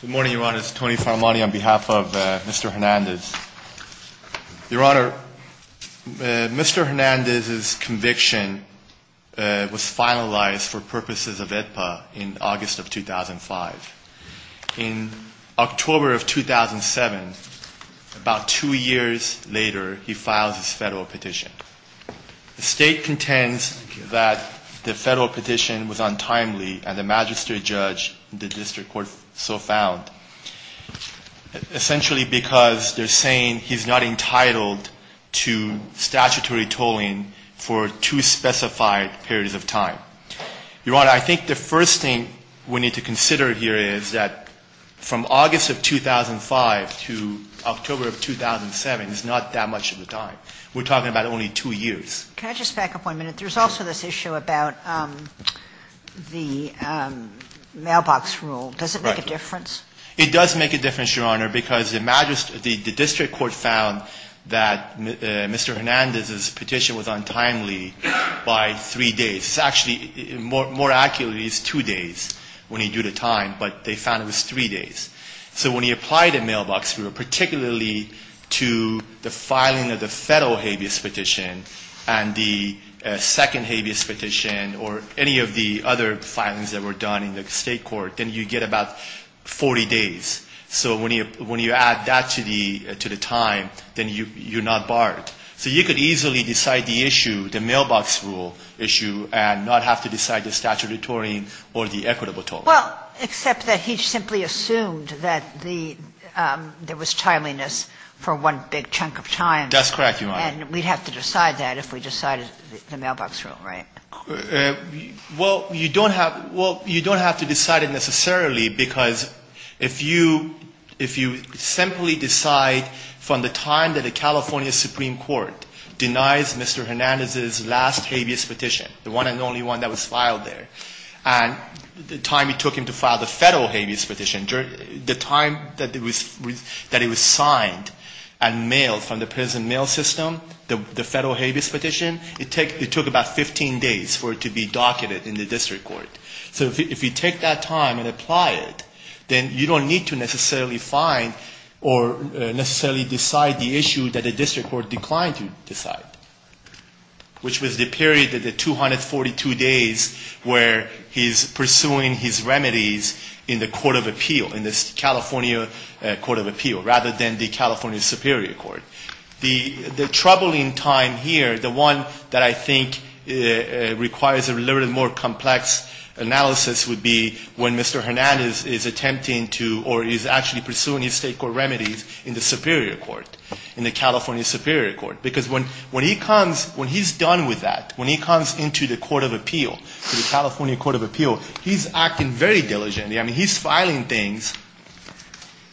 Good morning, Your Honor. It's Tony Faramani on behalf of Mr. Hernandez. Your Honor, Mr. Hernandez's conviction was finalized for purposes of AEDPA in August of 2005. In October of 2007, about two years later, he files his federal petition. The state contends that the federal petition was untimely, and the magistrate judge and the district court so found, essentially because they're saying he's not entitled to statutory tolling for two specified periods of time. Your Honor, I think the first thing we need to consider here is that from August of 2005 to October of 2007 is not that much of a time. We're talking about only two years. Can I just back up one minute? There's also this issue about the mailbox rule. Does it make a difference? It does make a difference, Your Honor, because the district court found that Mr. Hernandez's petition was untimely by three days. Actually, more accurately, it's two days when you do the time, but they found it was three days. So when you apply the mailbox rule, particularly to the filing of the federal habeas petition and the second habeas petition or any of the other filings that were done in the state court, then you get about 40 days. So when you add that to the time, then you're not barred. So you could easily decide the issue, the mailbox rule issue, and not have to decide the statutory or the equitable toll. Well, except that he simply assumed that there was timeliness for one big chunk of time. That's correct, Your Honor. And we'd have to decide that if we decided the mailbox rule, right? Well, you don't have to decide it necessarily, because if you simply decide from the time that a California supreme court denies Mr. Hernandez's last habeas petition, the one and only one that was filed there, and the time it took him to file the federal habeas petition, the time that it was signed and mailed from the prison mail system, the federal habeas petition, it took about 15 days for it to be docketed in the district court. So if you take that time and apply it, then you don't need to necessarily find or necessarily decide the issue that a district court declined to decide, which was the period of the 242 days where he's pursuing his remedies in the court of appeal, in this California court of appeal, rather than the California superior court. The troubling time here, the one that I think requires a little more complex analysis would be when Mr. Hernandez is attempting to or is actually pursuing his state court remedies in the superior court, in the California superior court. Because when he comes, when he's done with that, when he comes into the court of appeal, the California court of appeal, he's acting very diligently. I mean, he's filing things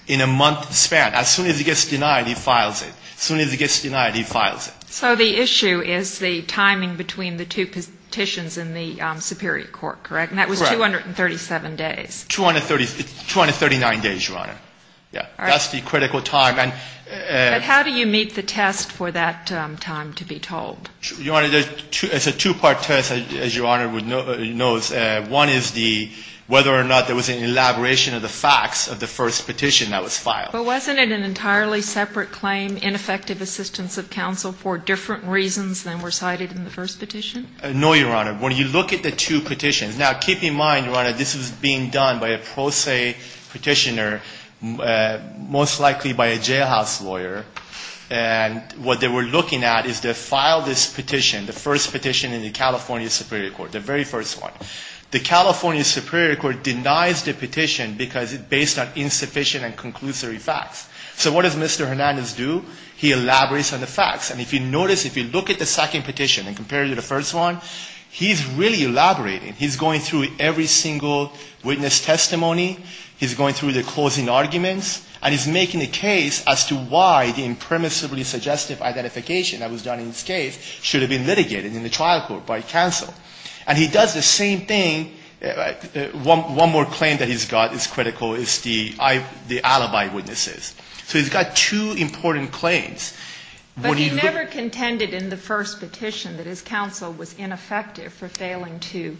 in a month span. As soon as he gets denied, he files it. As soon as he gets denied, he files it. So the issue is the timing between the two petitions in the superior court, correct? Correct. And that was 237 days. 239 days, Your Honor. All right. That's the critical time. But how do you meet the test for that time to be told? Your Honor, it's a two-part test, as Your Honor knows. One is the, whether or not there was an elaboration of the facts of the first petition that was filed. But wasn't it an entirely separate claim, ineffective assistance of counsel for different reasons than were cited in the first petition? No, Your Honor. When you look at the two petitions. Now, keep in mind, Your Honor, this was being done by a pro se petitioner, most likely by a jailhouse lawyer. And what they were looking at is they filed this petition, the first petition in the California superior court, the very first one. The California superior court denies the petition because it's based on insufficient and conclusory facts. So what does Mr. Hernandez do? He elaborates on the facts. And if you notice, if you look at the second petition and compare it to the first one, he's really elaborating. He's going through every single witness testimony. He's going through the closing arguments. And he's making a case as to why the impermissibly suggestive identification that was done in this case should have been litigated in the trial court by counsel. And he does the same thing. One more claim that he's got that's critical is the alibi witnesses. So he's got two important claims. But he never contended in the first petition that his counsel was ineffective for failing to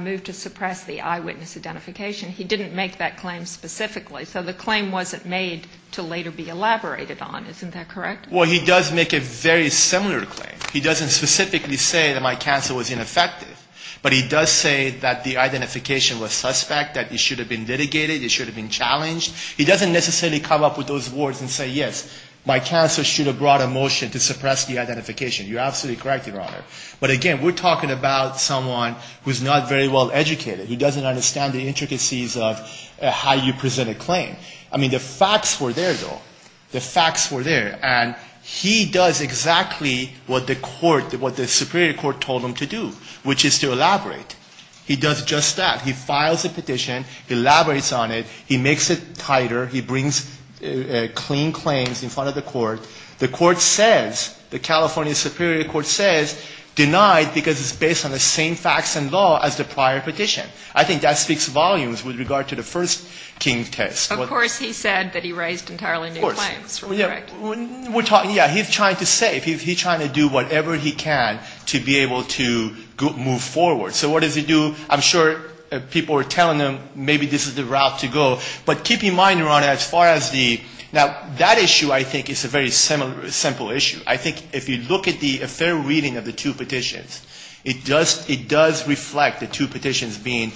move to suppress the eyewitness identification. He didn't make that claim specifically. So the claim wasn't made to later be elaborated on. Isn't that correct? Well, he does make a very similar claim. He doesn't specifically say that my counsel was ineffective. But he does say that the identification was suspect, that it should have been litigated, it should have been challenged. He doesn't necessarily come up with those words and say, yes, my counsel should have brought a motion to suppress the identification. You're absolutely correct, Your Honor. But, again, we're talking about someone who's not very well educated, who doesn't understand the intricacies of how you present a claim. I mean, the facts were there, though. The facts were there. And he does exactly what the court, what the superior court told him to do, which is to elaborate. He does just that. He files a petition. He elaborates on it. He makes it tighter. He brings clean claims in front of the court. The court says, the California Superior Court says, denied because it's based on the same facts and law as the prior petition. I think that speaks volumes with regard to the first King test. Of course he said that he raised entirely new claims. Of course. We're talking, yeah, he's trying to save. He's trying to do whatever he can to be able to move forward. So what does he do? I'm sure people are telling him, maybe this is the route to go. But keep in mind, Your Honor, as far as the – now, that issue, I think, is a very simple issue. I think if you look at the fair reading of the two petitions, it does reflect the two petitions being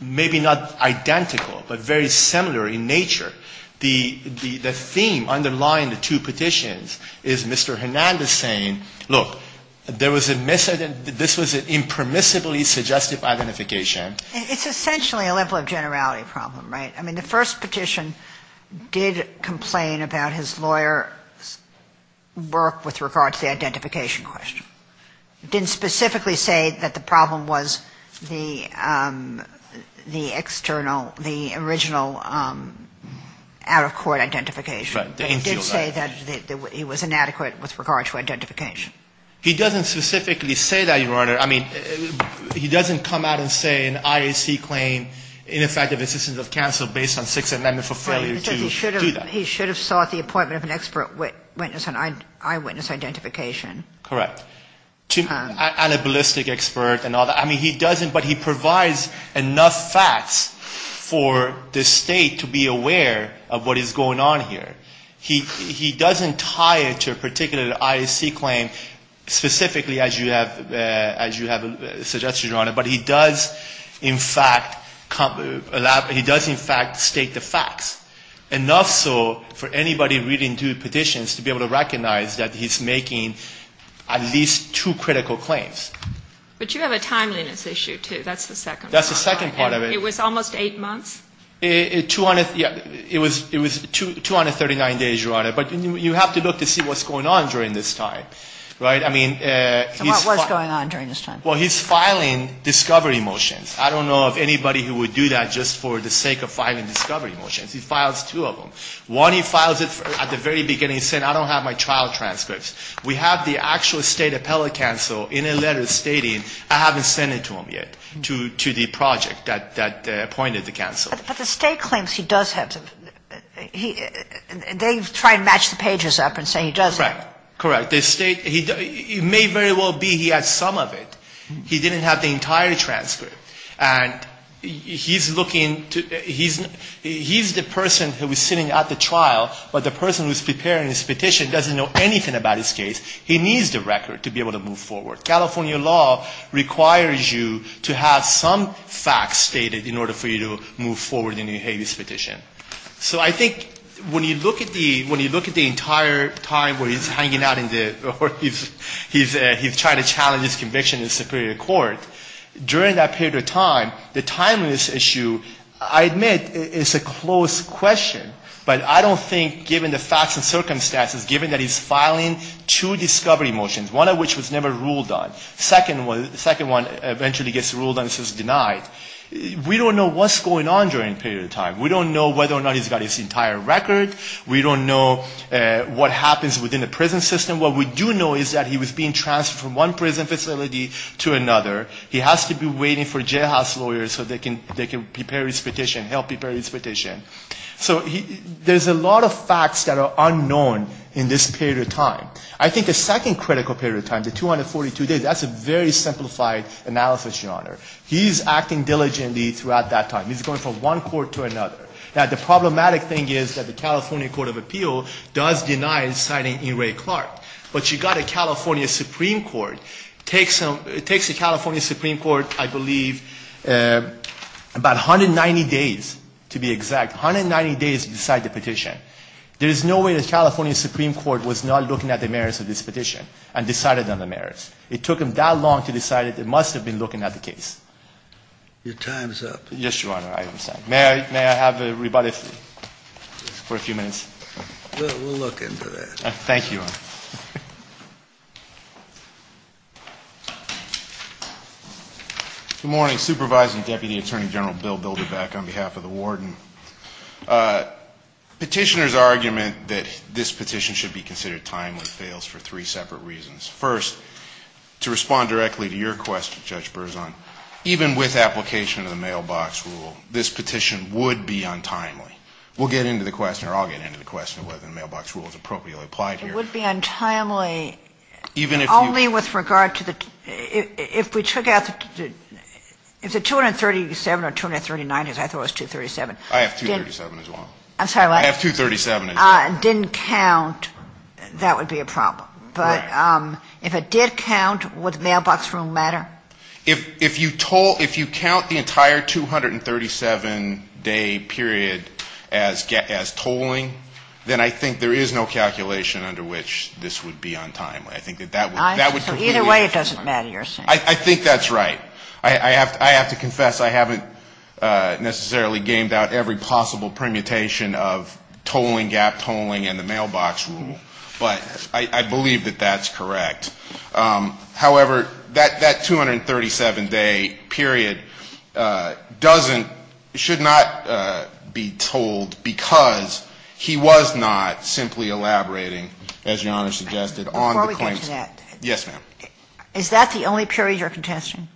maybe not identical, but very similar in nature. The theme underlying the two petitions is Mr. Hernandez saying, look, there was a misident – this was an impermissibly suggestive identification. It's essentially a level of generality problem, right? I mean, the first petition did complain about his lawyer's work with regard to the identification question. It didn't specifically say that the problem was the external – the original out-of-court identification. Right. It didn't say that it was inadequate with regard to identification. He doesn't specifically say that, Your Honor. I mean, he doesn't come out and say an IAC claim, ineffective assistance of counsel based on Sixth Amendment for failure to do that. He said he should have sought the appointment of an expert witness on eyewitness identification. Correct. And a ballistic expert and all that. I mean, he doesn't, but he provides enough facts for the state to be aware of what is going on here. He doesn't tie it to a particular IAC claim specifically as you have suggested, Your Honor. But he does in fact state the facts. Enough so for anybody reading through the petitions to be able to recognize that he's making at least two critical claims. But you have a timeliness issue, too. That's the second part. That's the second part of it. It was almost eight months? It was 239 days, Your Honor. But you have to look to see what's going on during this time. Right? I mean, he's – What's going on during this time? Well, he's filing discovery motions. I don't know of anybody who would do that just for the sake of filing discovery motions. He files two of them. One, he files it at the very beginning saying I don't have my trial transcripts. We have the actual state appellate counsel in a letter stating I haven't sent it to him yet, to the project that appointed the counsel. But the state claims he does have them. They try to match the pages up and say he does have them. Correct. Correct. The state – it may very well be he has some of it. He didn't have the entire transcript. And he's looking to – he's the person who is sitting at the trial, but the person who is preparing his petition doesn't know anything about his case. He needs the record to be able to move forward. California law requires you to have some facts stated in order for you to move forward in the Hague's petition. So I think when you look at the – when you look at the entire time where he's hanging out in the – he's trying to challenge his conviction in the superior court, during that period of time, the timeliness issue, I admit, is a close question. But I don't think, given the facts and circumstances, given that he's filing two discovery motions, one of which was never ruled on, the second one eventually gets ruled on and is denied, we don't know what's going on during that period of time. We don't know whether or not he's got his entire record. We don't know what happens within the prison system. What we do know is that he was being transferred from one prison facility to another. He has to be waiting for jailhouse lawyers so they can prepare his petition, help prepare his petition. So there's a lot of facts that are unknown in this period of time. I think the second critical period of time, the 242 days, that's a very simplified analysis, Your Honor. He's acting diligently throughout that time. He's going from one court to another. Now, the problematic thing is that the California Court of Appeal does deny his signing in Ray Clark. But you've got a California Supreme Court. It takes the California Supreme Court, I believe, about 190 days, to be exact, 190 days to decide the petition. There is no way the California Supreme Court was not looking at the merits of this petition and decided on the merits. It took them that long to decide that they must have been looking at the case. Your time is up. Yes, Your Honor. May I have a rebuttal for a few minutes? We'll look into that. Thank you. Good morning. Supervising Deputy Attorney General Bill Bilderbeck on behalf of the warden. Petitioner's argument that this petition should be considered timely fails for three separate reasons. First, to respond directly to your question, Judge Berzon, even with application of the mailbox rule, this petition would be untimely. We'll get into the question, or I'll get into the question, of whether the mailbox rule is appropriately applied here. It would be untimely only with regard to the, if we took out, if the 237 or 239, because I thought it was 237. I have 237 as well. I'm sorry, what? I have 237 as well. Didn't count, that would be a problem. Right. But if it did count, would the mailbox rule matter? If you toll, if you count the entire 237-day period as tolling, then I think there is no calculation under which this would be untimely. I think that that would be completely untimely. Either way, it doesn't matter, you're saying. I think that's right. I have to confess, I haven't necessarily gamed out every possible permutation of tolling, gap tolling, and the mailbox rule. But I believe that that's correct. However, that 237-day period doesn't, should not be tolled because he was not simply elaborating, as Your Honor suggested, on the claims. Before we get to that. Yes, ma'am. Is that the only period you're contesting?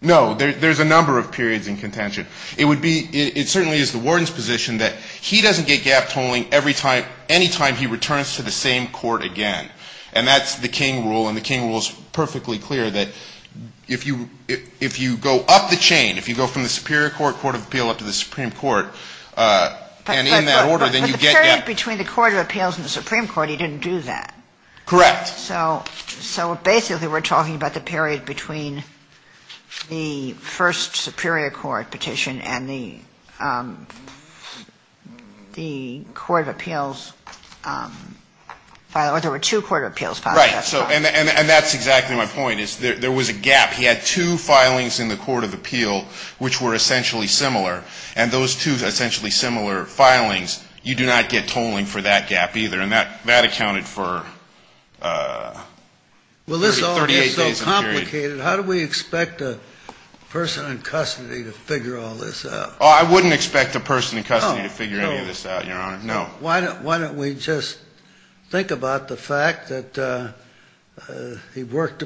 No. There's a number of periods in contention. It certainly is the warden's position that he doesn't get gap tolling any time he returns to the same court again. And that's the King Rule, and the King Rule is perfectly clear that if you go up the chain, if you go from the Superior Court, Court of Appeal, up to the Supreme Court, and in that order, then you get gap tolling. But the period between the Court of Appeals and the Supreme Court, he didn't do that. Correct. So basically we're talking about the period between the first Superior Court petition and the Court of Appeals, or there were two Court of Appeals. Right. And that's exactly my point. There was a gap. He had two filings in the Court of Appeal which were essentially similar. And those two essentially similar filings, you do not get tolling for that gap either. And that accounted for 38 days of the period. Well, this is all just so complicated. How do we expect a person in custody to figure all this out? Oh, I wouldn't expect a person in custody to figure any of this out, Your Honor. No. Why don't we just think about the fact that he worked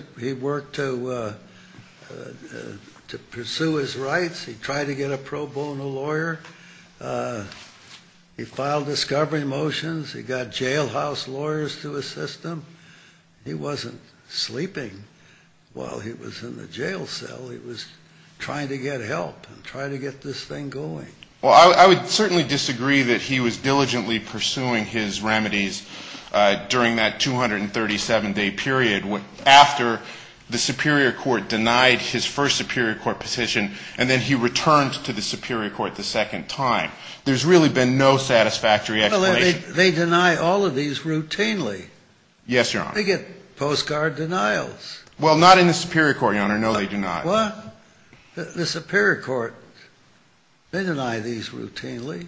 to pursue his rights, he tried to get a pro bono lawyer, he filed discovery motions, he got jailhouse lawyers to assist him. He wasn't sleeping while he was in the jail cell. He was trying to get help and trying to get this thing going. Well, I would certainly disagree that he was diligently pursuing his remedies during that 237-day period, after the Superior Court denied his first Superior Court petition, and then he returned to the Superior Court the second time. There's really been no satisfactory explanation. They deny all of these routinely. Yes, Your Honor. They get postcard denials. Well, not in the Superior Court, Your Honor. No, they do not. What? The Superior Court, they deny these routinely.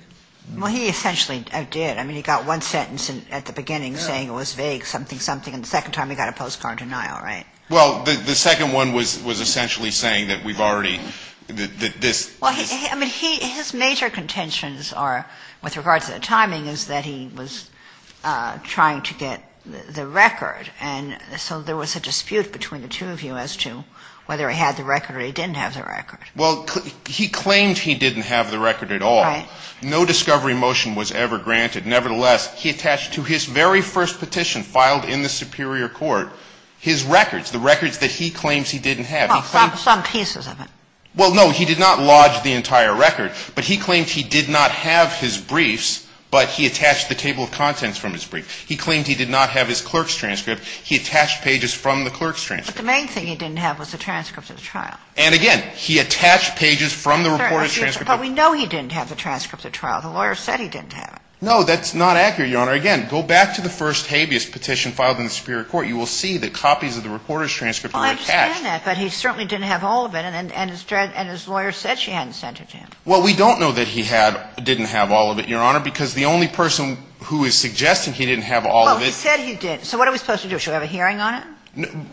Well, he essentially did. I mean, he got one sentence at the beginning saying it was vague, something, something, and the second time he got a postcard denial, right? Well, the second one was essentially saying that we've already – that this – Well, I mean, his major contentions are, with regards to the timing, is that he was trying to get the record. And so there was a dispute between the two of you as to whether he had the record or he didn't have the record. Well, he claimed he didn't have the record at all. Right. No discovery motion was ever granted. Nevertheless, he attached to his very first petition filed in the Superior Court his records, the records that he claims he didn't have. Well, some pieces of it. Well, no, he did not lodge the entire record, but he claimed he did not have his briefs, but he attached the table of contents from his briefs. He claimed he did not have his clerk's transcript. He attached pages from the clerk's transcript. But the main thing he didn't have was the transcript of the trial. And, again, he attached pages from the reporter's transcript. But we know he didn't have the transcript of the trial. The lawyer said he didn't have it. No, that's not accurate, Your Honor. Again, go back to the first habeas petition filed in the Superior Court. You will see that copies of the reporter's transcript were attached. Well, I understand that, but he certainly didn't have all of it. And his lawyer said she hadn't sent it to him. Well, we don't know that he didn't have all of it, Your Honor, because the only person who is suggesting he didn't have all of it. Well, he said he didn't. So what are we supposed to do? Should we have a hearing on it?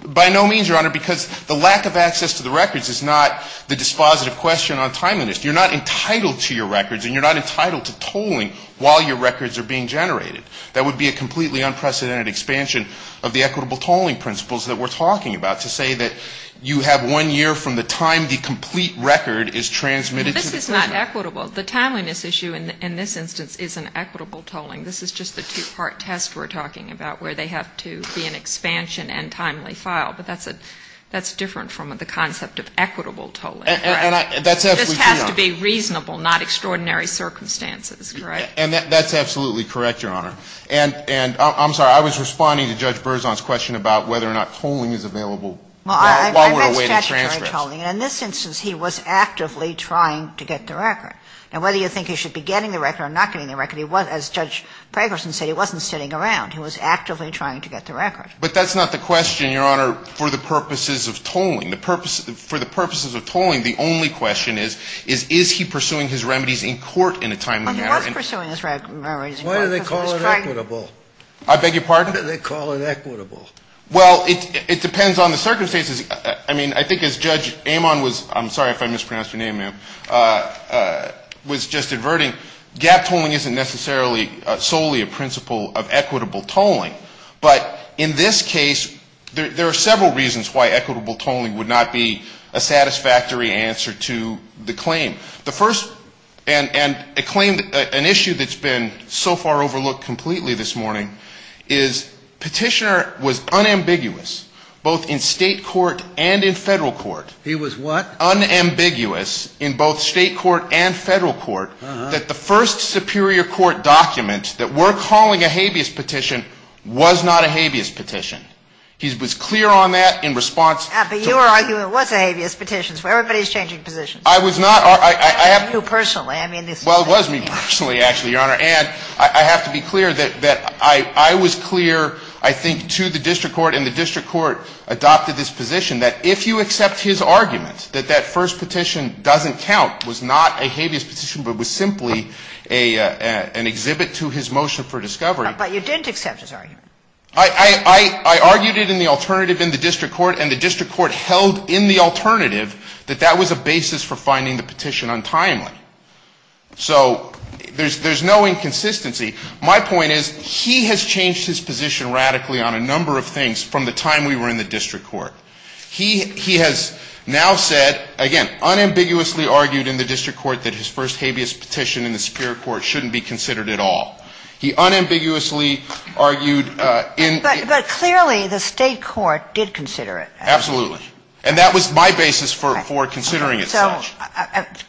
By no means, Your Honor, because the lack of access to the records is not the dispositive question on timeliness. You're not entitled to your records, and you're not entitled to tolling while your records are being generated. That would be a completely unprecedented expansion of the equitable tolling principles that we're talking about, to say that you have one year from the time the complete record is transmitted to the prisoner. This is not equitable. The timeliness issue in this instance isn't equitable tolling. This is just the two-part test we're talking about, where they have to be an expansion and timely file. But that's different from the concept of equitable tolling, correct? And that's absolutely true, Your Honor. This has to be reasonable, not extraordinary circumstances, correct? And that's absolutely correct, Your Honor. And I'm sorry. I was responding to Judge Berzon's question about whether or not tolling is available while we're awaiting transcripts. Well, I meant statutory tolling. And in this instance, he was actively trying to get the record. Now, whether you think he should be getting the record or not getting the record, as Judge Pregerson said, he wasn't sitting around. He was actively trying to get the record. But that's not the question, Your Honor, for the purposes of tolling. For the purposes of tolling, the only question is, is he pursuing his remedies in court in a timely manner? Well, he was pursuing his remedies in court. Why do they call it equitable? I beg your pardon? Why do they call it equitable? Well, it depends on the circumstances. I mean, I think as Judge Amon was, I'm sorry if I mispronounced your name, ma'am, was just averting, gap tolling isn't necessarily solely a principle of equitable tolling. But in this case, there are several reasons why equitable tolling would not be a satisfactory answer to the claim. The first, and a claim, an issue that's been so far overlooked completely this morning is Petitioner was unambiguous both in State court and in Federal court. He was what? Unambiguous in both State court and Federal court that the first superior court document that we're calling a habeas petition was not a habeas petition. He was clear on that in response to the ---- But your argument was a habeas petition. Everybody's changing positions. I was not. You personally. Well, it was me personally, actually, Your Honor. And I have to be clear that I was clear, I think, to the district court and the district court adopted this position that if you accept his argument that that first petition doesn't count, was not a habeas petition, but was simply an exhibit to his motion for discovery. But you didn't accept his argument. I argued it in the alternative in the district court, and the district court held in the alternative that that was a basis for finding the petition untimely. So there's no inconsistency. My point is he has changed his position radically on a number of things from the time we were in the district court. He has now said, again, unambiguously argued in the district court that his first habeas petition in the superior court shouldn't be considered at all. He unambiguously argued in ---- But clearly the State court did consider it. Absolutely. And that was my basis for considering it. So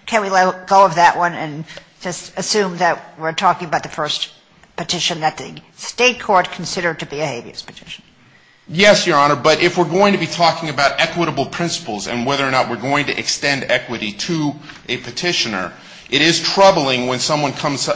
can we let go of that one and just assume that we're talking about the first petition that the State court considered to be a habeas petition? Yes, Your Honor, but if we're going to be talking about equitable principles and whether or not we're going to extend equity to a petitioner, it is troubling when someone comes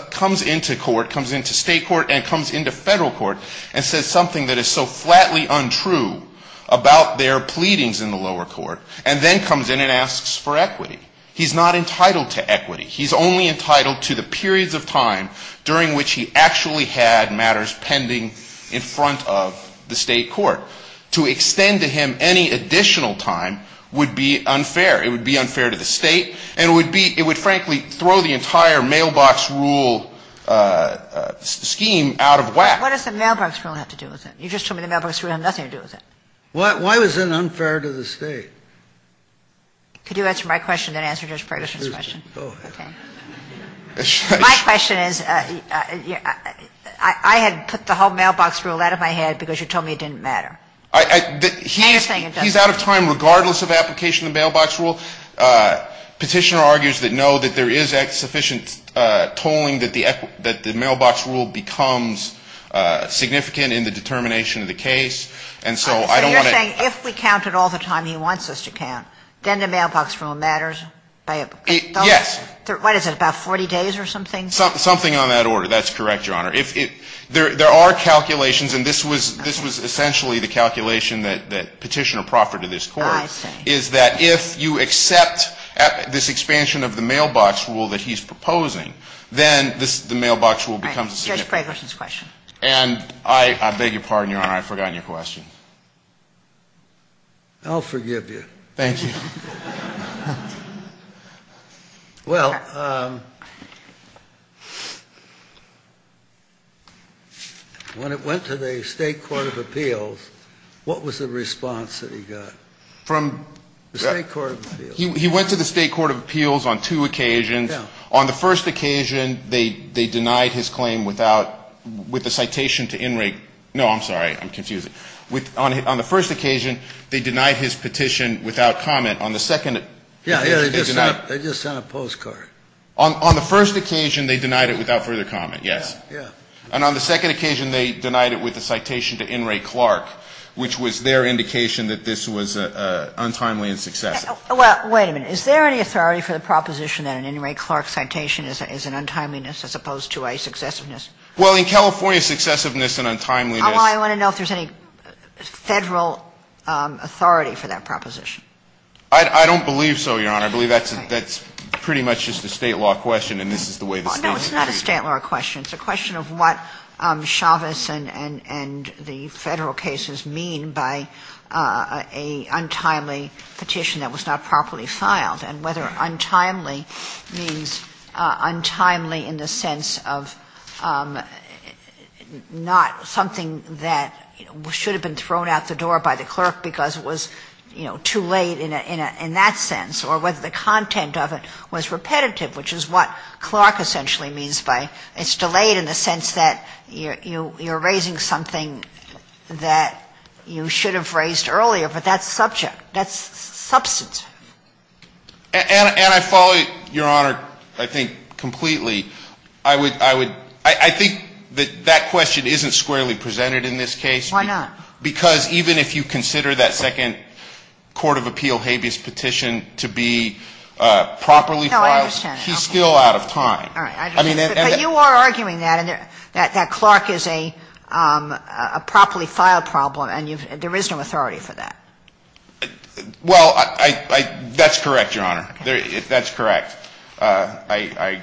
into court, comes into State court and comes into Federal court and says something that is so flatly untrue about their pleadings in the lower court, and then comes in and asks for equity. He's not entitled to equity. He's only entitled to the periods of time during which he actually had matters pending in front of the State court. To extend to him any additional time would be unfair. It would be unfair to the State, and it would be ---- it would frankly throw the entire mailbox rule scheme out of whack. What does the mailbox rule have to do with it? You just told me the mailbox rule had nothing to do with it. Why was that unfair to the State? Could you answer my question and then answer Judge Ferguson's question? Go ahead. My question is, I had put the whole mailbox rule out of my head because you told me it didn't matter. He's out of time regardless of application of the mailbox rule. Petitioner argues that, no, that there is sufficient tolling that the mailbox rule becomes significant in the determination of the case. And so I don't want to ---- So you're saying if we count it all the time he wants us to count, then the mailbox rule matters? Yes. What is it, about 40 days or something? Something on that order. That's correct, Your Honor. There are calculations, and this was essentially the calculation that Petitioner proffered to this Court, is that if you accept this expansion of the mailbox rule that he's proposing, then the mailbox rule becomes significant. All right. Judge Ferguson's question. And I beg your pardon, Your Honor, I've forgotten your question. I'll forgive you. Thank you. Well, when it went to the State Court of Appeals, what was the response that he got? From? The State Court of Appeals. He went to the State Court of Appeals on two occasions. Yeah. On the first occasion, they denied his claim without ---- with a citation to In rea ---- no, I'm sorry. I'm confusing. On the first occasion, they denied his petition without comment. On the second ---- Yeah, yeah. They just sent a postcard. On the first occasion, they denied it without further comment, yes. Yeah, yeah. And on the second occasion, they denied it with a citation to In re Clark, which was their indication that this was untimely and successive. Well, wait a minute. Is there any authority for the proposition that an In re Clark citation is an untimeliness as opposed to a successiveness? Well, in California, successiveness and untimeliness ---- I want to know if there's any Federal authority for that proposition. I don't believe so, Your Honor. I believe that's pretty much just a State law question, and this is the way the State is treating it. No, it's not a State law question. It's a question of what Chavez and the Federal cases mean by a untimely petition that was not properly filed and whether untimely means untimely in the sense of not something that should have been thrown out the door by the clerk because it was, you know, too late in that sense, or whether the content of it was repetitive, which is what Clark essentially means by it's delayed in the sense that you're raising something that you should have raised earlier, but that's subject. That's substantive. And I follow Your Honor, I think, completely. I would ---- I think that that question isn't squarely presented in this case. Why not? Because even if you consider that second court of appeal habeas petition to be properly filed, he's still out of time. But you are arguing that, and that Clark is a properly filed problem, and there is no authority for that. Well, that's correct, Your Honor. That's correct. I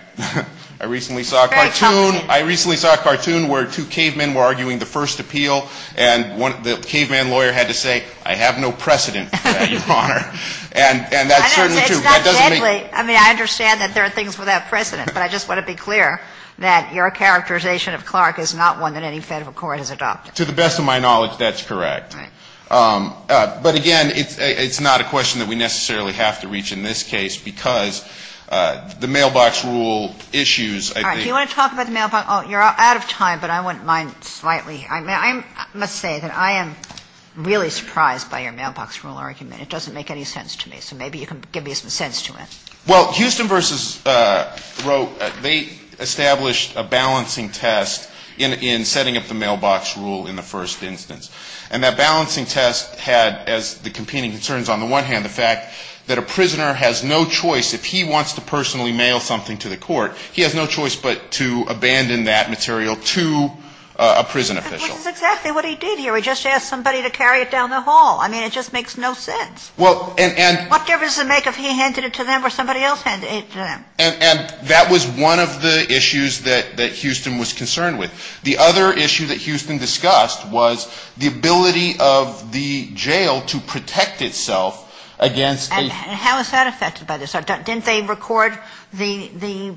recently saw a cartoon where two cavemen were arguing the first appeal, and the caveman lawyer had to say, I have no precedent for that, Your Honor. And that's certainly true. It's not deadly. I mean, I understand that there are things without precedent. But I just want to be clear that your characterization of Clark is not one that any Federal court has adopted. To the best of my knowledge, that's correct. Right. But again, it's not a question that we necessarily have to reach in this case because the mailbox rule issues, I think ---- All right. Do you want to talk about the mailbox rule? You're out of time, but I wouldn't mind slightly ---- I must say that I am really surprised by your mailbox rule argument. It doesn't make any sense to me. So maybe you can give me some sense to it. Well, Houston v. Roe, they established a balancing test in setting up the mailbox rule in the first instance. And that balancing test had, as the competing concerns on the one hand, the fact that a prisoner has no choice, if he wants to personally mail something to the court, he has no choice but to abandon that material to a prison official. But this is exactly what he did here. He just asked somebody to carry it down the hall. I mean, it just makes no sense. Well, and ---- What difference does it make if he handed it to them or somebody else handed it to them? And that was one of the issues that Houston was concerned with. The other issue that Houston discussed was the ability of the jail to protect itself against a ---- And how is that affected by this? Didn't they record the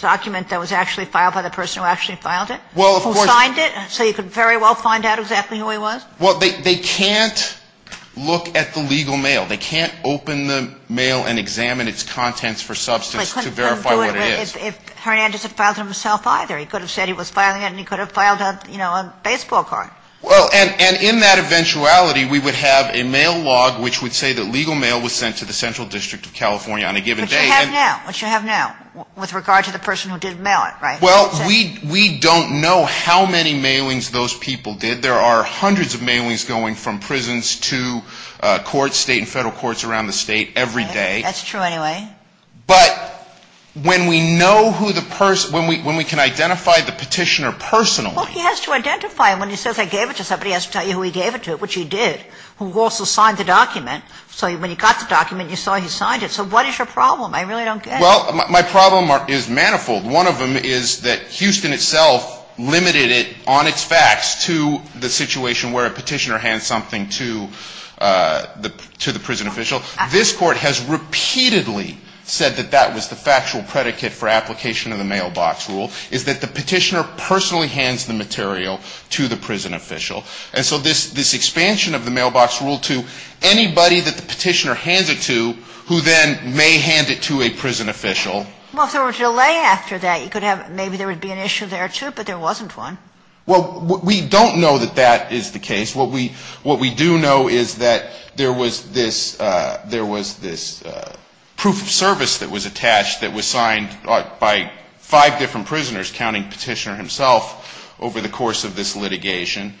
document that was actually filed by the person who actually filed it? Well, of course ---- Who signed it, so you could very well find out exactly who he was? Well, they can't look at the legal mail. They can't open the mail and examine its contents for substance to verify what it is. But they couldn't do it if Hernandez had filed it himself either. He could have said he was filing it and he could have filed a baseball card. Well, and in that eventuality, we would have a mail log which would say that legal mail was sent to the Central District of California on a given day. Which you have now. Which you have now with regard to the person who did mail it, right? Well, we don't know how many mailings those people did. There are hundreds of mailings going from prisons to courts, State and Federal courts around the State every day. That's true anyway. But when we know who the person ---- when we can identify the petitioner personally ---- Well, he has to identify him. When he says I gave it to somebody, he has to tell you who he gave it to, which he did, who also signed the document. So when you got the document, you saw he signed it. So what is your problem? I really don't get it. Well, my problem is manifold. One of them is that Houston itself limited it on its facts to the situation where a petitioner hands something to the prison official. This Court has repeatedly said that that was the factual predicate for application of the mailbox rule, is that the petitioner personally hands the material to the prison official. And so this expansion of the mailbox rule to anybody that the petitioner hands it to who then may hand it to a prison official. Well, if there were a delay after that, you could have ---- maybe there would be an issue there, too, but there wasn't one. Well, we don't know that that is the case. What we do know is that there was this proof of service that was attached that was signed by five different prisoners, counting petitioner himself, over the course of this litigation.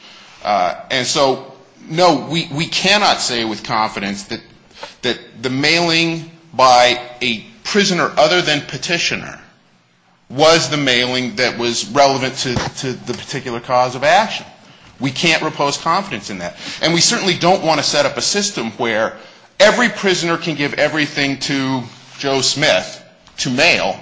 And so, no, we cannot say with confidence that the mailing by a prisoner other than petitioner was the mailing that was relevant to the particular cause of action. We can't repose confidence in that. And we certainly don't want to set up a system where every prisoner can give everything to Joe Smith to mail,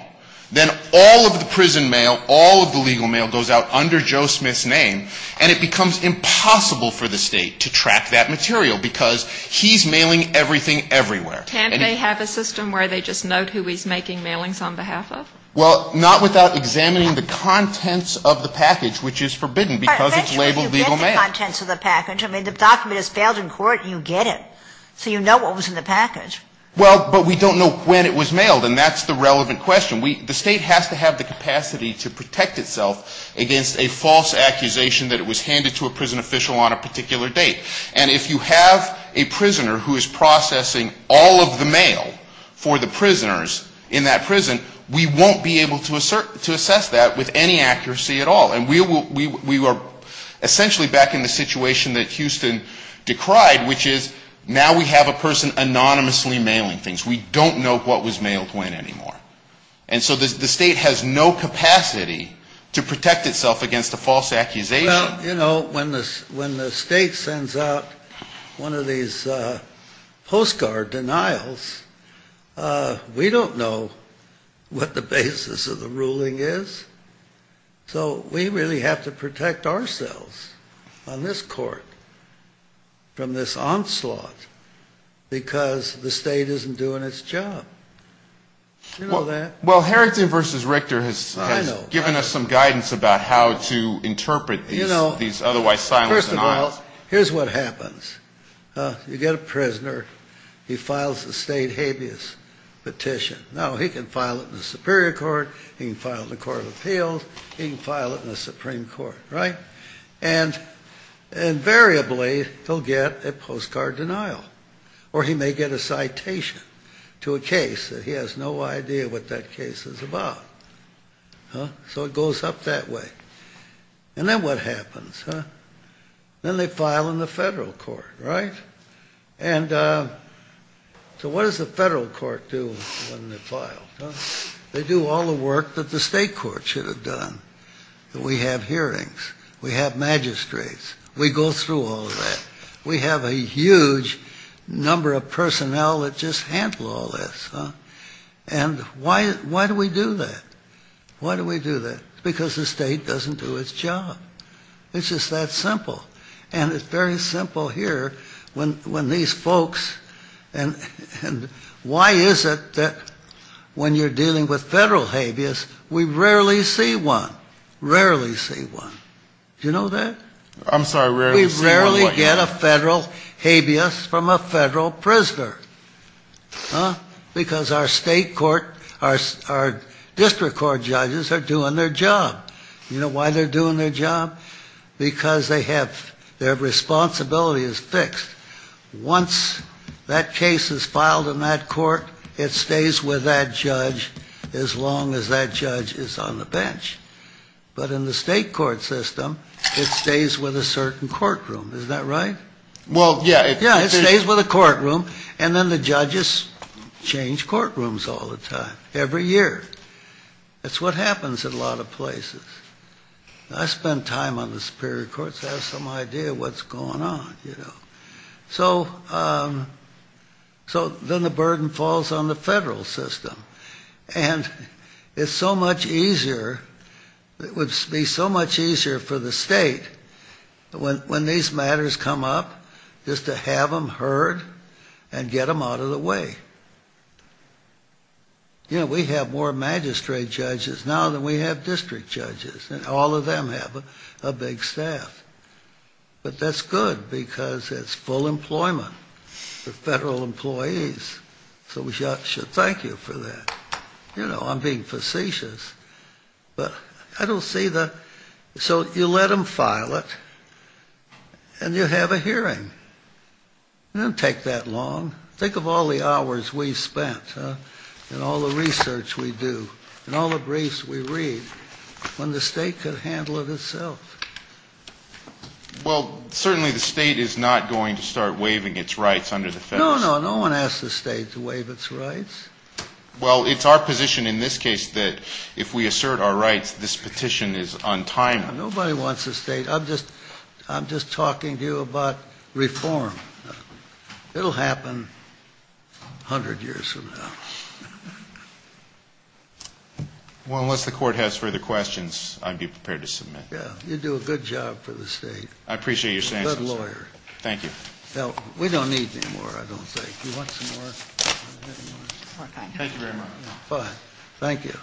then all of the prison mail, all of the legal mail goes out under Joe Smith's name, and it becomes impossible for the State to track that material because he's mailing everything everywhere. But can't they have a system where they just note who he's making mailings on behalf of? Well, not without examining the contents of the package, which is forbidden because it's labeled legal mail. But essentially you get the contents of the package. I mean, the document is failed in court and you get it. So you know what was in the package. Well, but we don't know when it was mailed, and that's the relevant question. The State has to have the capacity to protect itself against a false accusation that it was handed to a prison official on a particular date. And if you have a prisoner who is processing all of the mail for the prisoners in that prison, we won't be able to assess that with any accuracy at all. And we are essentially back in the situation that Houston decried, which is now we have a person anonymously mailing things. We don't know what was mailed when anymore. And so the State has no capacity to protect itself against a false accusation. You know, when the State sends out one of these postcard denials, we don't know what the basis of the ruling is. So we really have to protect ourselves on this court from this onslaught because the State isn't doing its job. You know that. Well, Harrington v. Richter has given us some guidance about how to interpret these. Well, first of all, here's what happens. You get a prisoner. He files a State habeas petition. Now, he can file it in the Superior Court. He can file it in the Court of Appeals. He can file it in the Supreme Court. Right? And invariably he'll get a postcard denial or he may get a citation to a case that he has no idea what that case is about. So it goes up that way. And then what happens? Then they file in the federal court. Right? And so what does the federal court do when they file? They do all the work that the State court should have done. We have hearings. We have magistrates. We go through all of that. We have a huge number of personnel that just handle all this. And why do we do that? Why do we do that? Because the State doesn't do its job. It's just that simple. And it's very simple here when these folks and why is it that when you're dealing with federal habeas, we rarely see one. Rarely see one. Do you know that? I'm sorry, rarely see one? We rarely get a federal habeas from a federal prisoner. Huh? Because our State court, our district court judges are doing their job. You know why they're doing their job? Because they have, their responsibility is fixed. Once that case is filed in that court, it stays with that judge as long as that judge is on the bench. But in the State court system, it stays with a certain courtroom. Isn't that right? Well, yeah. Yeah, it stays with a courtroom. And then the judges change courtrooms all the time, every year. That's what happens in a lot of places. I spend time on the Superior Court so I have some idea what's going on, you know. So then the burden falls on the federal system. And it's so much easier, it would be so much easier for the State when these matters come up, just to have them heard and get them out of the way. You know, we have more magistrate judges now than we have district judges. And all of them have a big staff. But that's good because it's full employment for federal employees. So we should thank you for that. You know, I'm being facetious. But I don't see the, so you let them file it and you have a hearing. It doesn't take that long. Think of all the hours we've spent and all the research we do and all the briefs we read when the State could handle it itself. Well, certainly the State is not going to start waiving its rights under the federal system. No, no, no one asks the State to waive its rights. Well, it's our position in this case that if we assert our rights, this petition is untimely. Nobody wants the State. I'm just talking to you about reform. It will happen 100 years from now. Well, unless the Court has further questions, I'd be prepared to submit. Yeah, you do a good job for the State. I appreciate your sanctions. You're a good lawyer. Thank you. Now, we don't need any more, I don't think. Do you want some more? Thank you very much. Thank you.